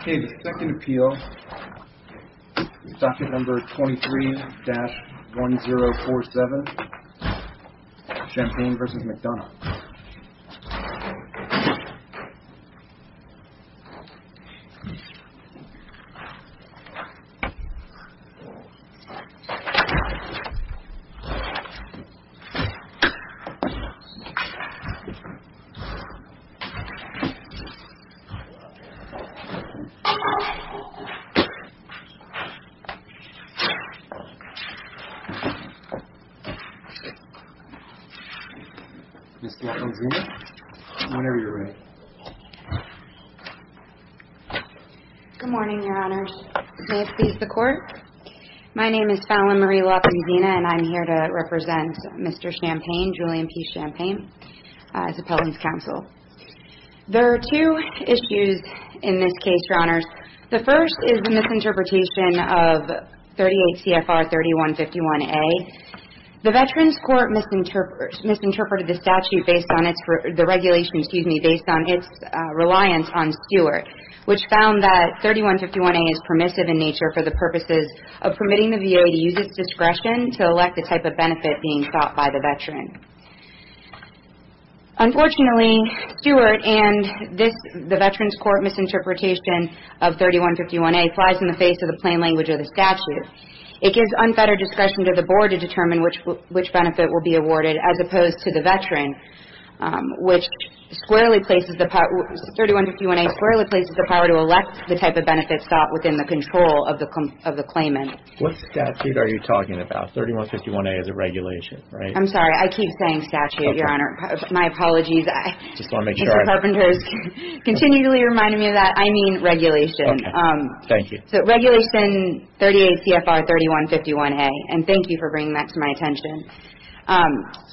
Okay the second appeal is docket number 23-1047 Champagne v. McDonough Good morning your honors. May it please the court. My name is Fallon Marie LaPanzina and I'm here to represent Mr. Champagne, Julian P. Champagne as appellant's counsel. There are two issues in this case your honors. The first is the misinterpretation of 38 C.F.R. 3151-A. The veterans court misinterpreted the statute based on its, the regulation, excuse me, based on its reliance on Stewart. Which found that 3151-A is permissive in nature for the purposes of permitting the VA to use its discretion to elect the type of benefit being sought by the veteran. Unfortunately, Stewart and this, the veterans court misinterpretation of 3151-A flies in the face of the plain language of the statute. It gives unfettered discretion to the board to determine which benefit will be awarded as opposed to the veteran. Which squarely places the power, 3151-A squarely places the power to elect the type of benefit sought within the control of the claimant. What statute are you talking about? 3151-A is a regulation, right? I'm sorry. I keep saying statute, your honor. My apologies. I just want to make sure. Mr. Carpenters continually reminded me of that. I mean regulation. Okay. Thank you. So regulation 38 C.F.R. 3151-A and thank you for bringing that to my attention.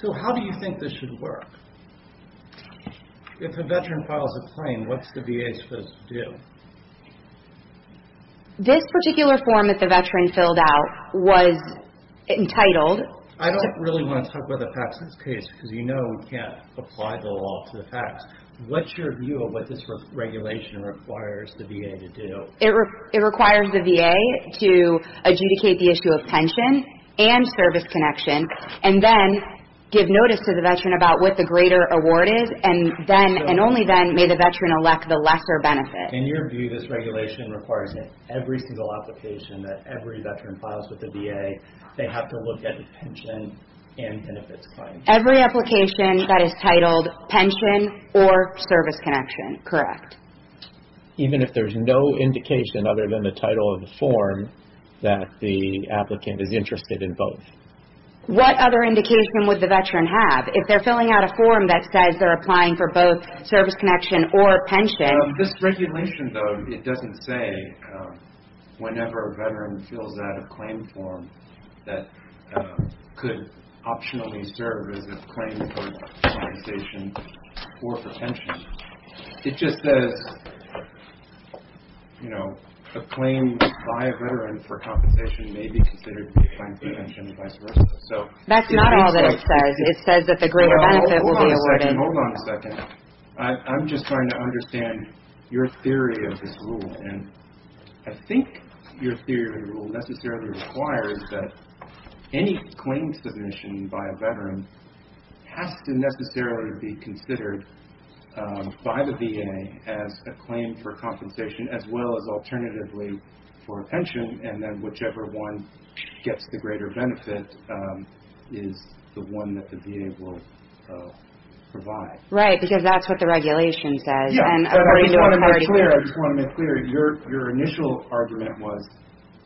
So how do you think this should work? If a veteran files a claim, what's the VA supposed to do? This particular form that the veteran filled out was entitled. I don't really want to talk about the facts in this case because you know we can't apply the law to the facts. What's your view of what this regulation requires the VA to do? It requires the VA to adjudicate the issue of pension and service connection and then give notice to the veteran about what the greater award is and only then may the veteran elect the lesser benefit. In your view, this regulation requires that every single application that every veteran files with the VA, they have to look at the pension and benefits claim. Every application that is titled pension or service connection, correct. Even if there's no indication other than the title of the form that the applicant is interested in both. What other indication would the veteran have? If they're filling out a form that says they're applying for both service connection or pension. This regulation, though, it doesn't say whenever a veteran fills out a claim form that could optionally serve as a claim for compensation or for pension. It just says, you know, a claim by a veteran for compensation may be considered a claim for pension and vice versa. That's not all that it says. It says that the greater benefit will be awarded. Hold on a second. I'm just trying to understand your theory of this rule. And I think your theory of the rule necessarily requires that any claim submission by a veteran has to necessarily be considered by the VA as a claim for compensation as well as alternatively for a pension and then whichever one gets the greater benefit is the one that the VA will provide. Right, because that's what the regulation says. I just want to make clear. Your initial argument was,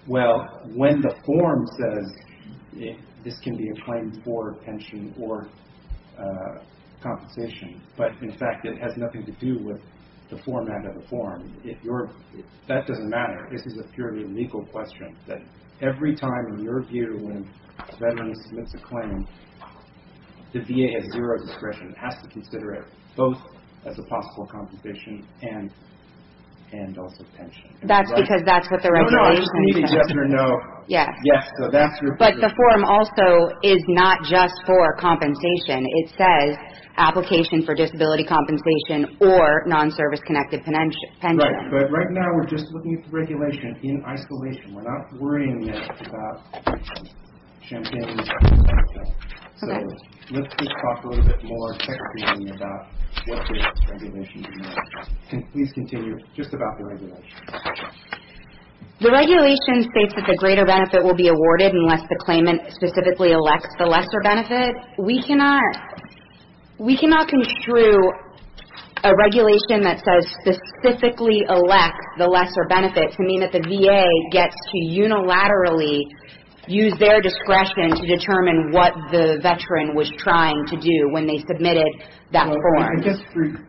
well, when the form says this can be a claim for pension or compensation, but in fact it has nothing to do with the format of the form. That doesn't matter. In fact, this is a purely legal question. Every time in your view when a veteran submits a claim, the VA has zero discretion. It has to consider it both as a possible compensation and also pension. That's because that's what the regulation says. Yes. But the form also is not just for compensation. It says application for disability compensation or non-service connected pension. Right. But right now we're just looking at the regulation in isolation. We're not worrying about champagne and cocktail. So let's just talk a little bit more technically about what the regulation is. Please continue just about the regulation. The regulation states that the greater benefit will be awarded unless the claimant specifically elects the lesser benefit. We cannot construe a regulation that says specifically elect the lesser benefit to mean that the VA gets to unilaterally use their discretion to determine what the veteran was trying to do when they submitted that form.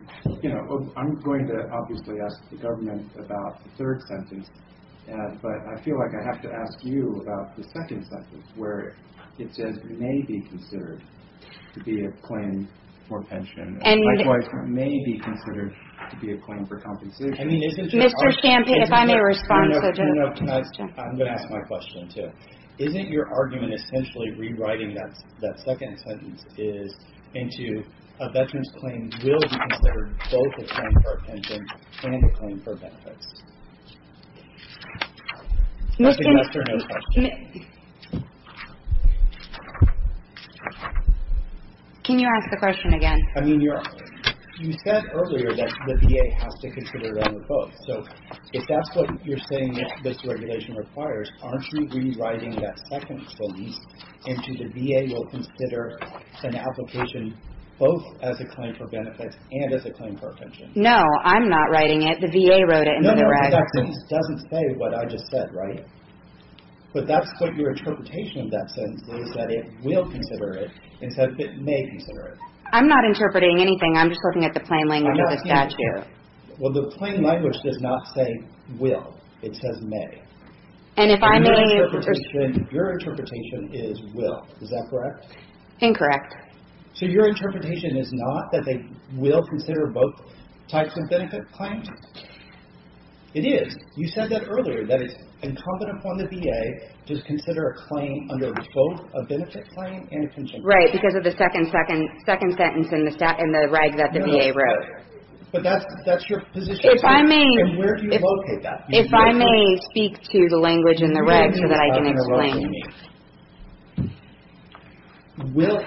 I'm going to obviously ask the government about the third sentence, but I feel like I have to ask you about the second sentence where it says may be considered to be a claim for pension. Likewise, may be considered to be a claim for compensation. Mr. Champagne, if I may respond. I'm going to ask my question too. Isn't your argument essentially rewriting that second sentence into a veteran's claim will be considered both a claim for a pension and a claim for benefits? That's a yes or no question. Can you ask the question again? I mean, you said earlier that the VA has to consider them both. So if that's what you're saying this regulation requires, aren't you rewriting that second sentence into the VA will consider an application both as a claim for benefits and as a claim for a pension? No, I'm not writing it. The VA wrote it. No, that sentence doesn't say what I just said, right? But that's what your interpretation of that sentence is that it will consider it instead of it may consider it. I'm not interpreting anything. I'm just looking at the plain language of the statute. Well, the plain language does not say will. It says may. And if I may. Your interpretation is will. Is that correct? Incorrect. So your interpretation is not that they will consider both types of benefit claims? It is. You said that earlier that it's incumbent upon the VA to consider a claim under both a benefit claim and a pension claim. Right, because of the second sentence in the reg that the VA wrote. But that's your position. If I may. And where do you locate that? If I may speak to the language in the reg so that I can explain. If I may. Will.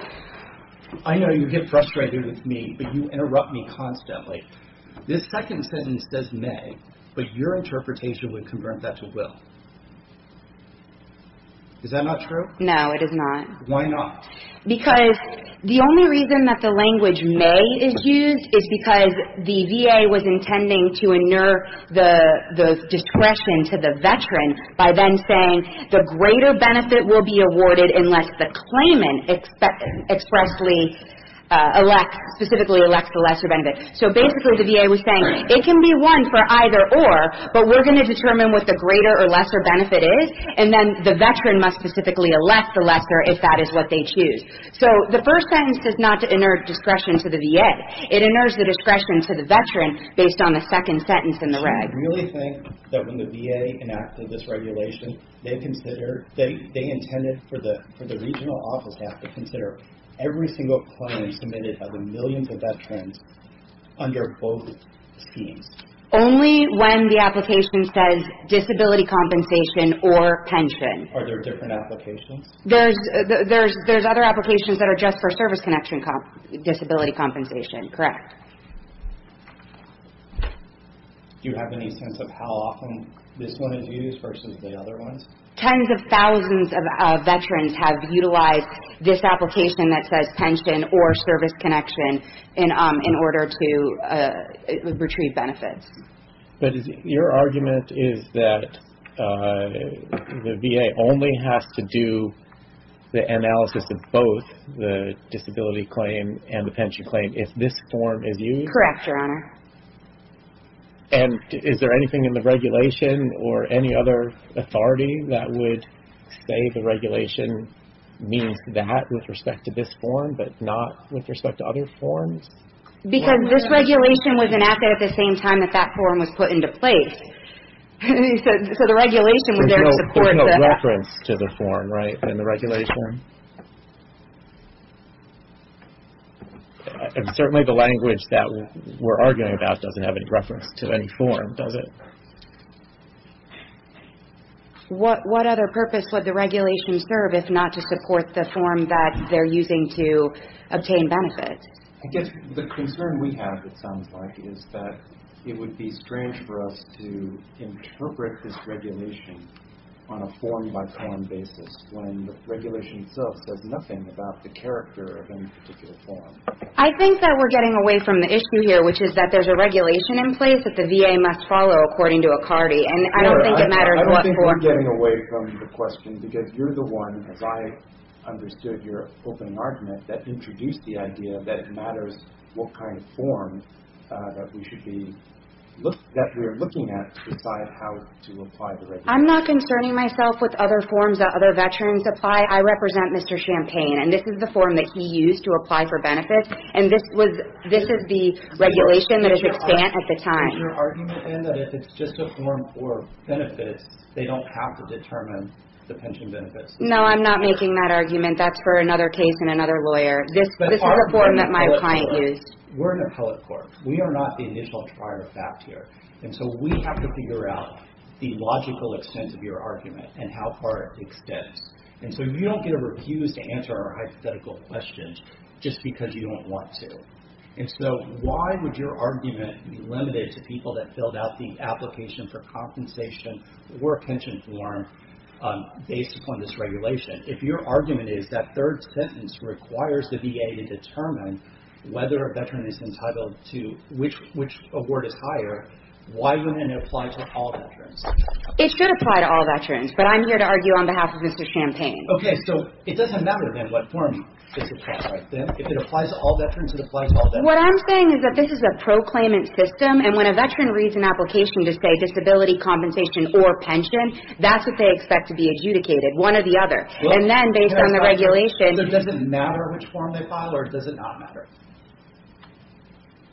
I know you get frustrated with me, but you interrupt me constantly. This second sentence does may, but your interpretation would convert that to will. Is that not true? No, it is not. Why not? Because the only reason that the language may is used is because the VA was intending the discretion to the veteran by then saying the greater benefit will be awarded unless the claimant expressly elects, specifically elects the lesser benefit. So basically the VA was saying it can be won for either or, but we're going to determine what the greater or lesser benefit is, and then the veteran must specifically elect the lesser if that is what they choose. So the first sentence does not inert discretion to the VA. It inerts the discretion to the veteran based on the second sentence in the reg. Do you really think that when the VA enacted this regulation, they intended for the regional office staff to consider every single claim submitted by the millions of veterans under both schemes? Only when the application says disability compensation or pension. Are there different applications? There's other applications that are just for service connection disability compensation. Correct. Do you have any sense of how often this one is used versus the other ones? Tens of thousands of veterans have utilized this application that says pension or service connection in order to retrieve benefits. But your argument is that the VA only has to do the analysis of both the disability claim and the pension claim if this form is used? Correct, Your Honor. And is there anything in the regulation or any other authority that would say the regulation means that with respect to this form, but not with respect to other forms? Because this regulation was enacted at the same time that that form was put into place. So the regulation was there to support that. There's no reference to the form, right, in the regulation? And certainly the language that we're arguing about doesn't have any reference to any form, does it? What other purpose would the regulation serve if not to support the form that they're using to obtain benefits? I guess the concern we have, it sounds like, is that it would be strange for us to interpret this regulation on a form-by-form basis when the regulation itself says nothing about the character of any particular form. I think that we're getting away from the issue here, which is that there's a regulation in place that the VA must follow according to a CARTI, and I don't think it matters what form. I don't think we're getting away from the question because you're the one, as I understood your opening argument, that introduced the idea that it matters what kind of form that we should be – that we're looking at to decide how to apply the regulation. I'm not concerning myself with other forms that other veterans apply. I represent Mr. Champagne, and this is the form that he used to apply for benefits, and this was – this is the regulation that was expanded at the time. Are you saying that if it's just a form for benefits, they don't have to determine the pension benefits? No, I'm not making that argument. That's for another case and another lawyer. This is a form that my client used. We're an appellate court. We are not the initial trier of fact here, and so we have to figure out the logical extent of your argument and how far it extends. And so you don't get a refuse to answer our hypothetical questions just because you don't want to. And so why would your argument be limited to people that filled out the application for compensation or a pension form based upon this regulation? If your argument is that third sentence requires the VA to determine whether a veteran is entitled to which award is higher, why wouldn't it apply to all veterans? It should apply to all veterans, but I'm here to argue on behalf of Mr. Champagne. Okay. So it doesn't matter then what form this applies, right? If it applies to all veterans, it applies to all veterans. What I'm saying is that this is a proclaimant system, and when a veteran reads an application to say disability compensation or pension, that's what they expect to be adjudicated, one or the other. And then based on the regulation – Does it matter which form they file, or does it not matter?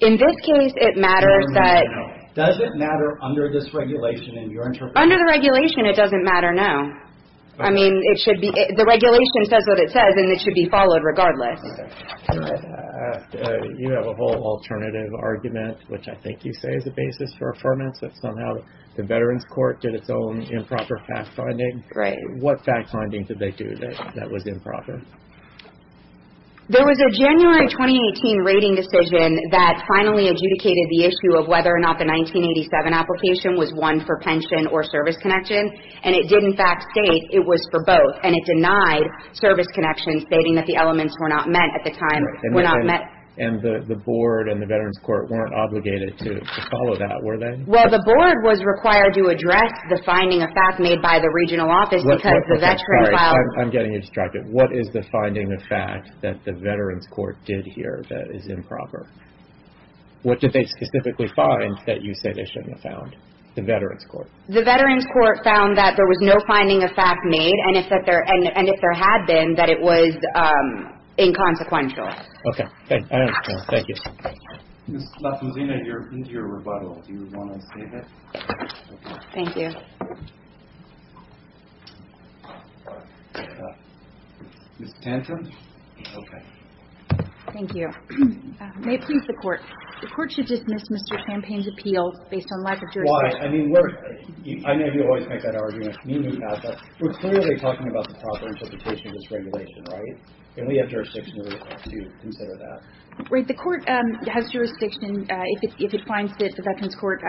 In this case, it matters that – Does it matter under this regulation in your interpretation? Under the regulation, it doesn't matter, no. I mean, it should be – the regulation says what it says, and it should be followed regardless. Okay. You have a whole alternative argument, which I think you say is the basis for affirmance, that somehow the Veterans Court did its own improper fact-finding. Right. What fact-finding did they do that was improper? There was a January 2018 rating decision that finally adjudicated the issue of whether or not the 1987 application was one for pension or service connection, and it did in fact state it was for both, and it denied service connections stating that the elements were not met at the time. And the Board and the Veterans Court weren't obligated to follow that, were they? Well, the Board was required to address the finding of fact made by the regional office because the Veterans – I'm getting you distracted. What is the finding of fact that the Veterans Court did here that is improper? What did they specifically find that you say they shouldn't have found, the Veterans Court? The Veterans Court found that there was no finding of fact made, and if there had been, that it was inconsequential. Okay. I understand. Thank you. Ms. Lattuzina, you're into your rebuttal. Do you want to say that? Thank you. Ms. Tanton? Okay. Thank you. May it please the Court. The Court should dismiss Mr. Campaign's appeal based on lack of jurisdiction. Why? I mean, we're – I know you always make that argument. Me and you have. But we're clearly talking about the proper interpretation of this regulation, right? And we have jurisdiction to consider that. Right. The Court has jurisdiction if it finds that the Veterans Court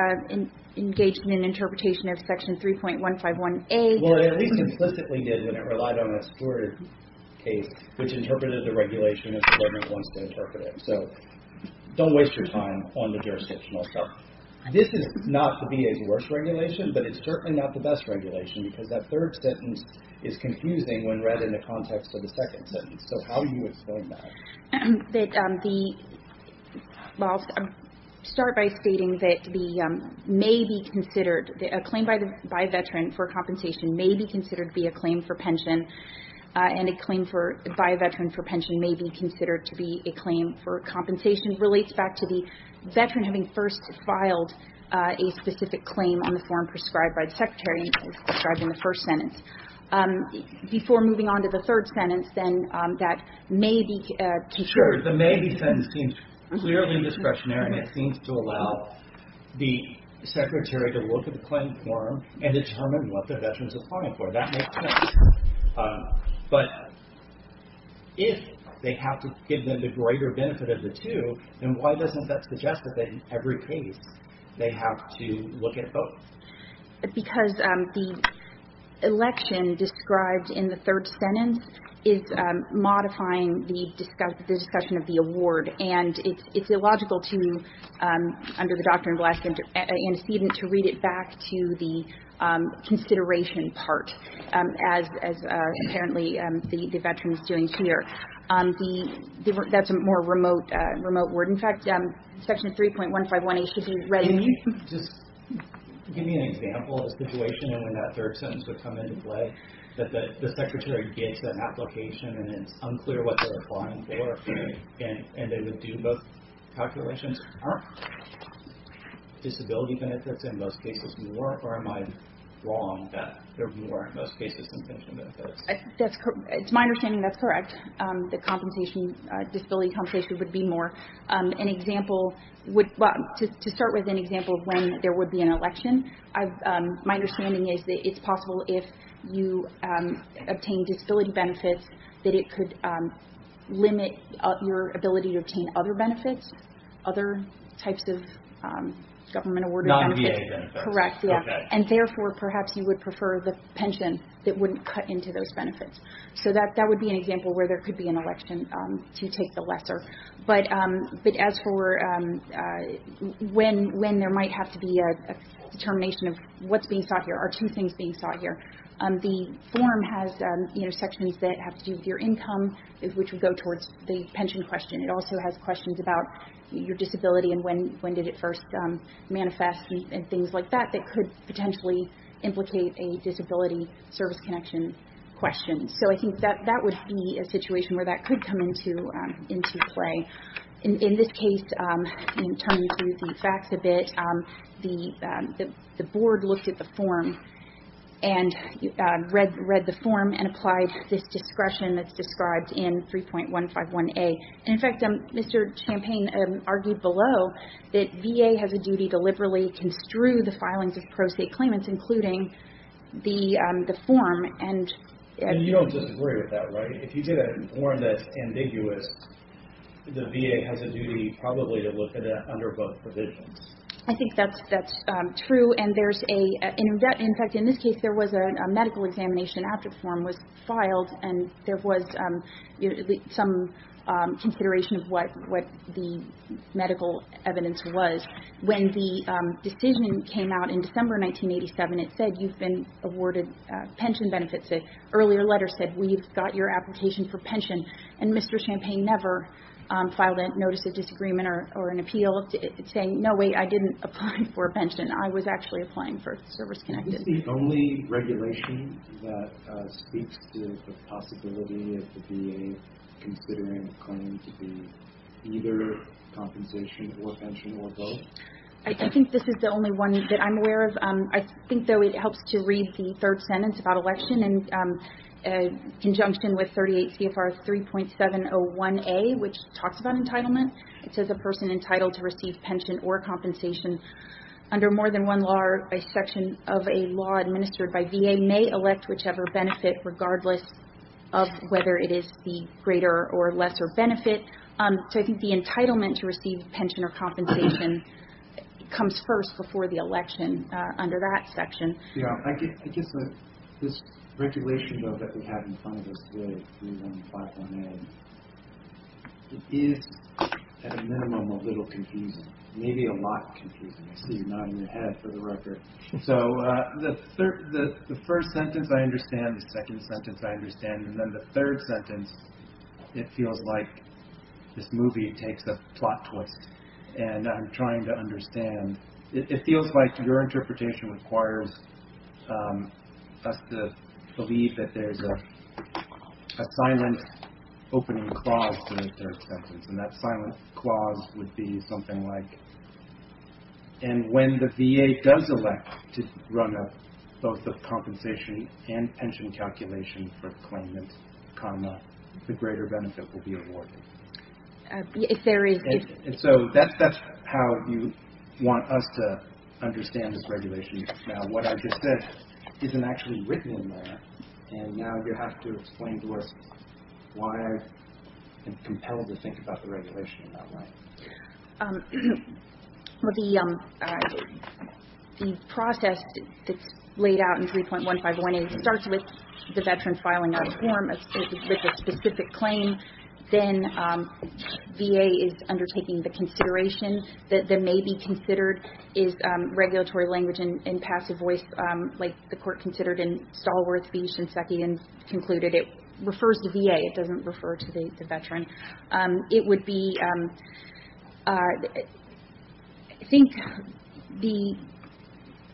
engaged in an interpretation of Section 3.151A. Well, it at least implicitly did when it relied on a supported case, which interpreted the regulation as the government wants to interpret it. So don't waste your time on the jurisdictional stuff. This is not the VA's worst regulation, but it's certainly not the best regulation because that third sentence is confusing when read in the context of the second sentence. So how do you explain that? That the – well, I'll start by stating that the may be considered – a claim by a Veteran for compensation may be considered to be a claim for pension, and a claim for – by a Veteran for pension may be considered to be a claim for compensation. It relates back to the Veteran having first filed a specific claim on the form prescribed by the Secretary as described in the first sentence. Before moving on to the third sentence, then, that may be considered – Sure. The may be sentence seems clearly discretionary, and it seems to allow the Secretary to look at the claim form and determine what the Veterans are applying for. That makes sense. But if they have to give them the greater benefit of the two, then why doesn't that suggest that in every case they have to look at both? Because the election described in the third sentence is modifying the discussion of the award, and it's illogical to, under the Doctrine of Blasphemy antecedent, to read it back to the consideration part, as apparently the Veteran is doing here. That's a more remote word. In fact, Section 3.151A should read – Can you just give me an example of the situation when that third sentence would come into play, that the Secretary gets an application and it's unclear what they're applying for, and they would do both calculations? Aren't disability benefits in most cases more, or am I wrong that they're more in most cases than pension benefits? It's my understanding that's correct, that disability compensation would be more. To start with an example of when there would be an election, my understanding is that it's possible if you obtain disability benefits that it could limit your ability to obtain other benefits, other types of government-awarded benefits. Non-VA benefits. Correct, yeah. And therefore, perhaps you would prefer the pension that wouldn't cut into those benefits. So that would be an example where there could be an election to take the lesser. But as for when there might have to be a determination of what's being sought here, are two things being sought here. The form has sections that have to do with your income, which would go towards the pension question. It also has questions about your disability and when did it first manifest and things like that, that could potentially implicate a disability service connection question. So I think that that would be a situation where that could come into play. In this case, in turning to the facts a bit, the board looked at the form and read the form and applied this discretion that's described in 3.151A. And, in fact, Mr. Champagne argued below that VA has a duty to liberally construe the filings of pro se claimants, including the form. And you don't disagree with that, right? If you say that in a form that's ambiguous, the VA has a duty probably to look at that under both provisions. I think that's true. And there's a – in fact, in this case, there was a medical examination after the form was filed and there was some consideration of what the medical evidence was. When the decision came out in December 1987, it said you've been awarded pension benefits. An earlier letter said we've got your application for pension. And Mr. Champagne never filed a notice of disagreement or an appeal saying, no, wait, I didn't apply for pension. I was actually applying for service connected. Is this the only regulation that speaks to the possibility of the VA considering a claim to be either compensation or pension or both? I think this is the only one that I'm aware of. I think, though, it helps to read the third sentence about election in conjunction with 38 CFR 3.701A, which talks about entitlement. It says a person entitled to receive pension or compensation under more than one section of a law administered by VA may elect whichever benefit regardless of whether it is the greater or lesser benefit. It comes first before the election under that section. I guess this regulation, though, that we have in front of us today, 3.701A, it is at a minimum a little confusing, maybe a lot confusing. I see you nodding your head for the record. So the first sentence I understand, the second sentence I understand, and then the third sentence, it feels like this movie takes a plot twist. And I'm trying to understand. It feels like your interpretation requires us to believe that there's a silent opening clause to the third sentence. And that silent clause would be something like, and when the VA does elect to run a both a compensation and pension calculation if there is a And so that's how you want us to understand this regulation. Now, what I just said isn't actually written in there. And now you have to explain to us why I'm compelled to think about the regulation in that way. Well, the process that's laid out in 3.151A starts with the Veteran filing out a form with a specific claim. Then VA is undertaking the consideration that may be considered is regulatory language and passive voice like the court considered in Stallworth v. Shinseki and concluded it refers to VA. It doesn't refer to the Veteran. It would be, I think the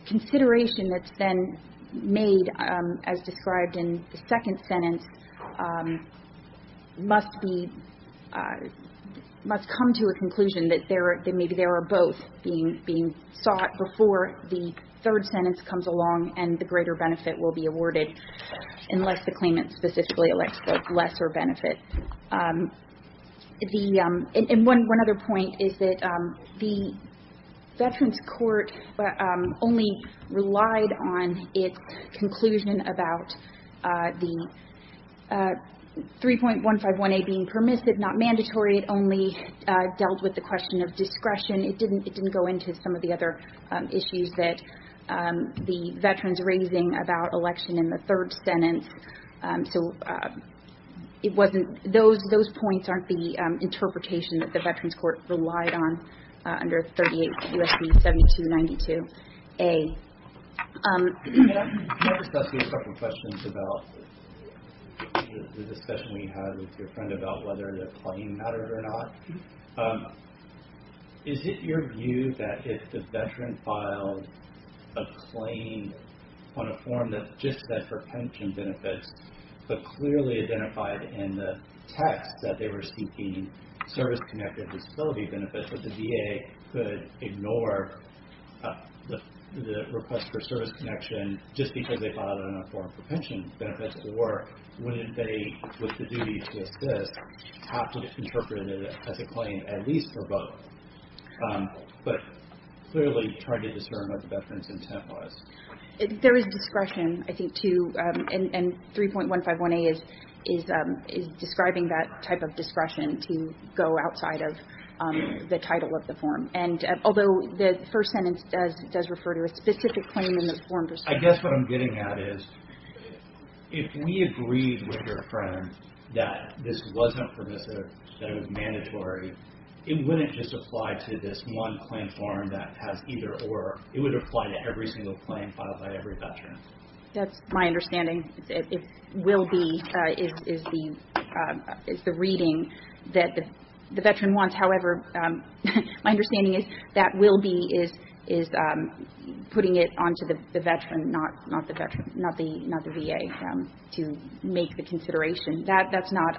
consideration that's then made as described in the second sentence must be, must come to a conclusion that there are, that maybe there are both being sought before the third sentence comes along and the greater benefit will be awarded unless the claimant specifically elects the lesser benefit. The, and one other point is that the Veterans Court only relied on its conclusion about the 3.151A being permissive, not mandatory. It only dealt with the question of discretion. It didn't go into some of the other issues that the Veterans raising about election in the third sentence. So it wasn't, those points aren't the interpretation that the Veterans Court relied on under 38 U.S.C. 7292A. I have a couple of questions about the discussion we had with your friend about whether the claim mattered or not. Is it your view that if the Veteran filed a claim on a form that just said for pension benefits but clearly identified in the text that they were seeking service-connected disability benefits that the VA could ignore the request for service connection just because they filed it on a form for pension benefits? Or wouldn't they, with the duty to assist, have to interpret it as a claim at least for both? But clearly trying to discern what the Veteran's intent was. There is discretion, I think, to, and 3.151A is describing that type of discretion to go outside of the title of the form. And although the first sentence does refer to a specific claim in the form. I guess what I'm getting at is if we agreed with your friend that this wasn't permissive, that it was mandatory, it wouldn't just apply to this one claim form that has either or. It would apply to every single claim filed by every Veteran. That's my understanding. It will be, is the reading that the Veteran wants. However, my understanding is that will be is putting it onto the Veteran, not the VA, to make the consideration. That's not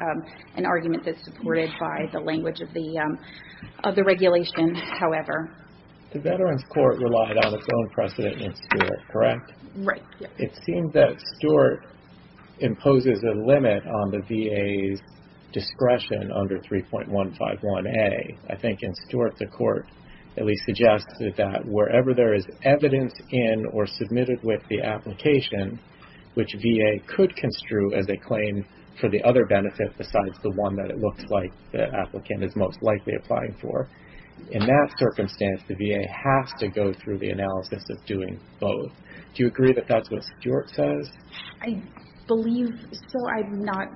an argument that's supported by the language of the regulations, however. The Veterans Court relied on its own precedent and spirit, correct? Right. It seems that Stewart imposes a limit on the VA's discretion under 3.151A. I think in Stewart, the court at least suggested that wherever there is evidence in or submitted with the application, which VA could construe as a claim for the other benefit besides the one that it looks like the applicant is most likely applying for. In that circumstance, the VA has to go through the analysis of doing both. Do you agree that that's what Stewart says? I believe so. I'm not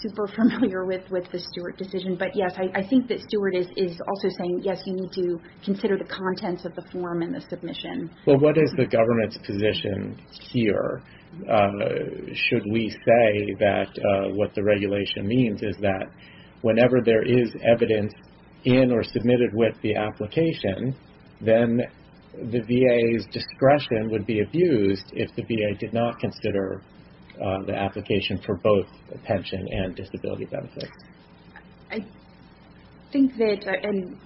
super familiar with the Stewart decision. Yes, I think that Stewart is also saying, yes, you need to consider the contents of the form and the submission. What is the government's position here? Should we say that what the regulation means is that whenever there is evidence in or submitted with the application, then the VA's discretion would be abused if the VA did not consider the application for both pension and disability benefits. I think that, and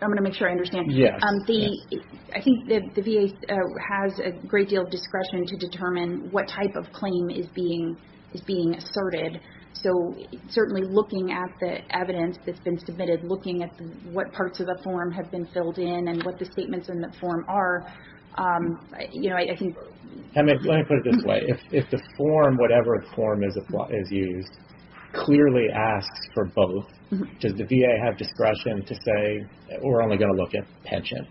I'm going to make sure I understand. Yes. I think that the VA has a great deal of discretion to determine what type of claim is being asserted. Certainly looking at the evidence that's been submitted, looking at what parts of the form have been filled in, and what the statements in the form are. Let me put it this way. If the form, whatever form is used, clearly asks for both, does the VA have discretion to say, we're only going to look at pension?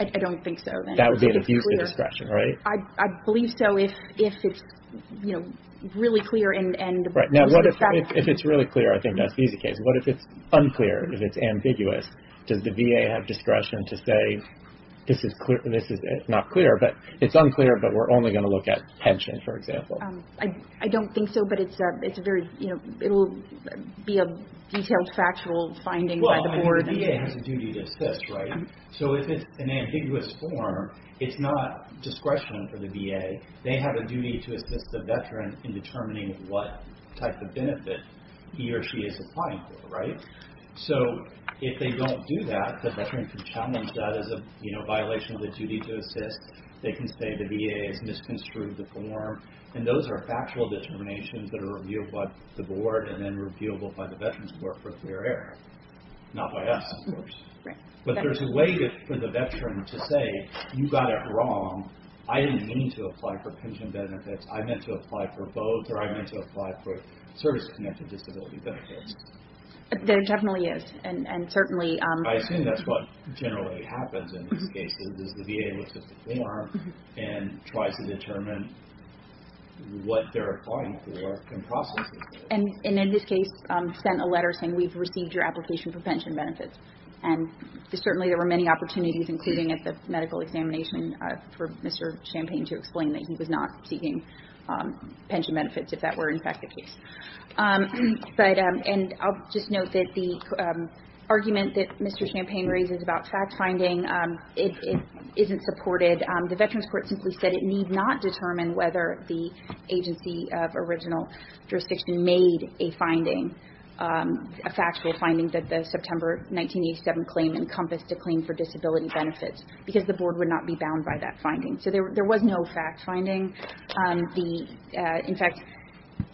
I don't think so. That would be an abuse of discretion, right? I believe so if it's really clear. If it's really clear, I think that's the easy case. What if it's unclear, if it's ambiguous? Does the VA have discretion to say, this is not clear, but it's unclear, but we're only going to look at pension, for example? I don't think so, but it will be a detailed factual finding by the board. The VA has a duty to assist, right? So if it's an ambiguous form, it's not discretion for the VA. They have a duty to assist the veteran in determining what type of benefit he or she is applying for, right? So if they don't do that, the veteran can challenge that as a violation of the duty to assist. They can say the VA has misconstrued the form, and those are factual determinations that are reviewed by the board and then reviewable by the Veterans Court for clear error. Not by us, of course. But there's a way for the veteran to say, you got it wrong. I didn't mean to apply for pension benefits. I meant to apply for both, or I meant to apply for service-connected disability benefits. There definitely is, and certainly... I assume that's what generally happens in these cases is the VA looks at the form and tries to determine what they're applying for and processes it. And in this case, sent a letter saying, we've received your application for pension benefits. And certainly there were many opportunities, including at the medical examination, for Mr. Champagne to explain that he was not seeking pension benefits if that were, in fact, the case. And I'll just note that the argument that Mr. Champagne raises about fact-finding, it isn't supported. The Veterans Court simply said it need not determine whether the agency of original jurisdiction made a finding, a factual finding that the September 1987 claim encompassed a claim for disability benefits, because the board would not be bound by that finding. So there was no fact-finding.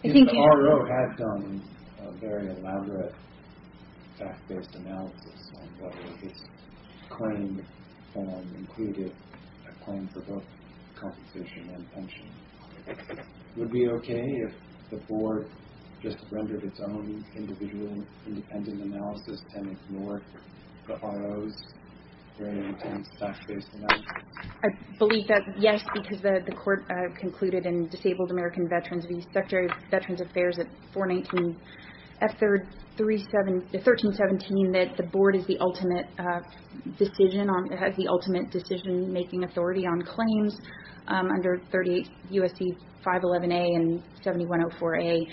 Even the RO had done a very elaborate fact-based analysis on whether this claim included a claim for both compensation and pension. Would it be okay if the board just rendered its own individual independent analysis and ignored the RO's very intense fact-based analysis? I believe that, yes, because the court concluded in Disabled American Veterans, the Secretary of Veterans Affairs at 419 F-1317, that the board is the ultimate decision-making authority on claims under U.S.C. 511A and 7104A.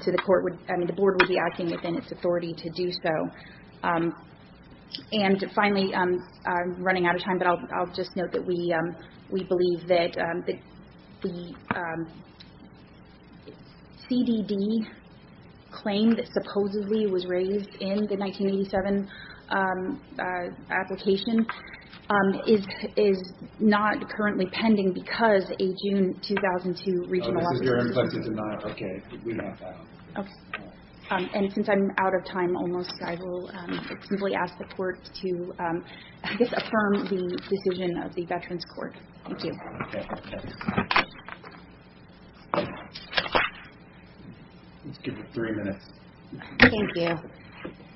So the board would be acting within its authority to do so. And finally, I'm running out of time, but I'll just note that we believe that the CDD claim that supposedly was raised in the 1987 application is not currently pending because a June 2002 regional audit. Oh, this is your M-29? Okay. We have that. And since I'm out of time almost, I will simply ask the court to just affirm the decision of the Veterans Court. Thank you. Let's give it three minutes. Thank you.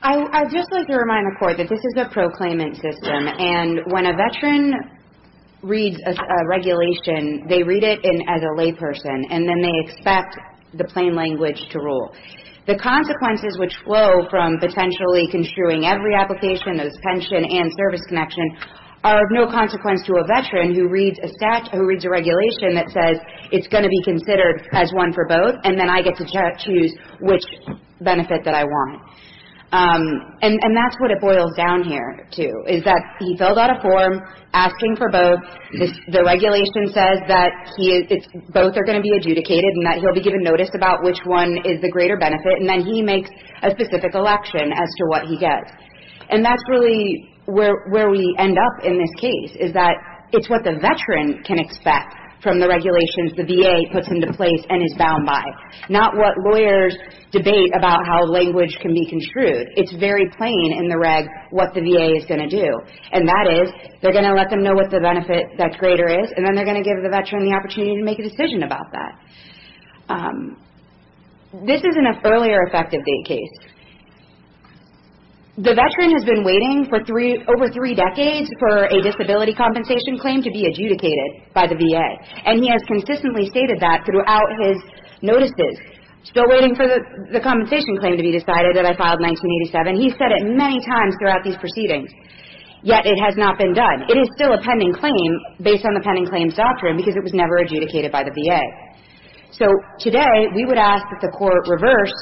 I'd just like to remind the court that this is a proclaimant system, and when a veteran reads a regulation, they read it as a layperson, and then they expect the plain language to rule. The consequences which flow from potentially construing every application, those pension and service connection, are of no consequence to a veteran who reads a regulation that says it's going to be considered as one for both, and then I get to choose which benefit that I want. And that's what it boils down here to, is that he filled out a form asking for both. The regulation says that both are going to be adjudicated, and that he'll be given notice about which one is the greater benefit, and then he makes a specific election as to what he gets. And that's really where we end up in this case, is that it's what the veteran can expect from the regulations the VA puts into place and is bound by, not what lawyers debate about how language can be construed. It's very plain in the reg what the VA is going to do, and that is they're going to let them know what the benefit that's greater is, and then they're going to give the veteran the opportunity to make a decision about that. This is an earlier effective date case. The veteran has been waiting for over three decades for a disability compensation claim to be adjudicated by the VA, and he has consistently stated that throughout his notices. Still waiting for the compensation claim to be decided that I filed in 1987. He's said it many times throughout these proceedings, yet it has not been done. It is still a pending claim based on the pending claims doctrine because it was never adjudicated by the VA. So today we would ask that the court reverse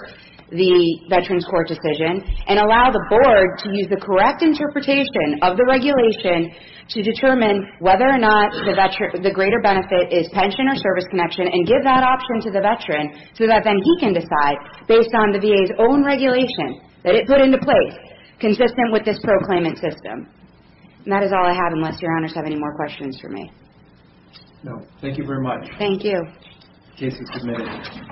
the veteran's court decision and allow the board to use the correct interpretation of the regulation to determine whether or not the veteran, the greater benefit is pension or service connection and give that option to the veteran so that then he can decide based on the VA's own regulation that it put into place consistent with this proclaimant system. And that is all I have unless your honors have any more questions for me. No. Thank you very much. Thank you. The case is submitted.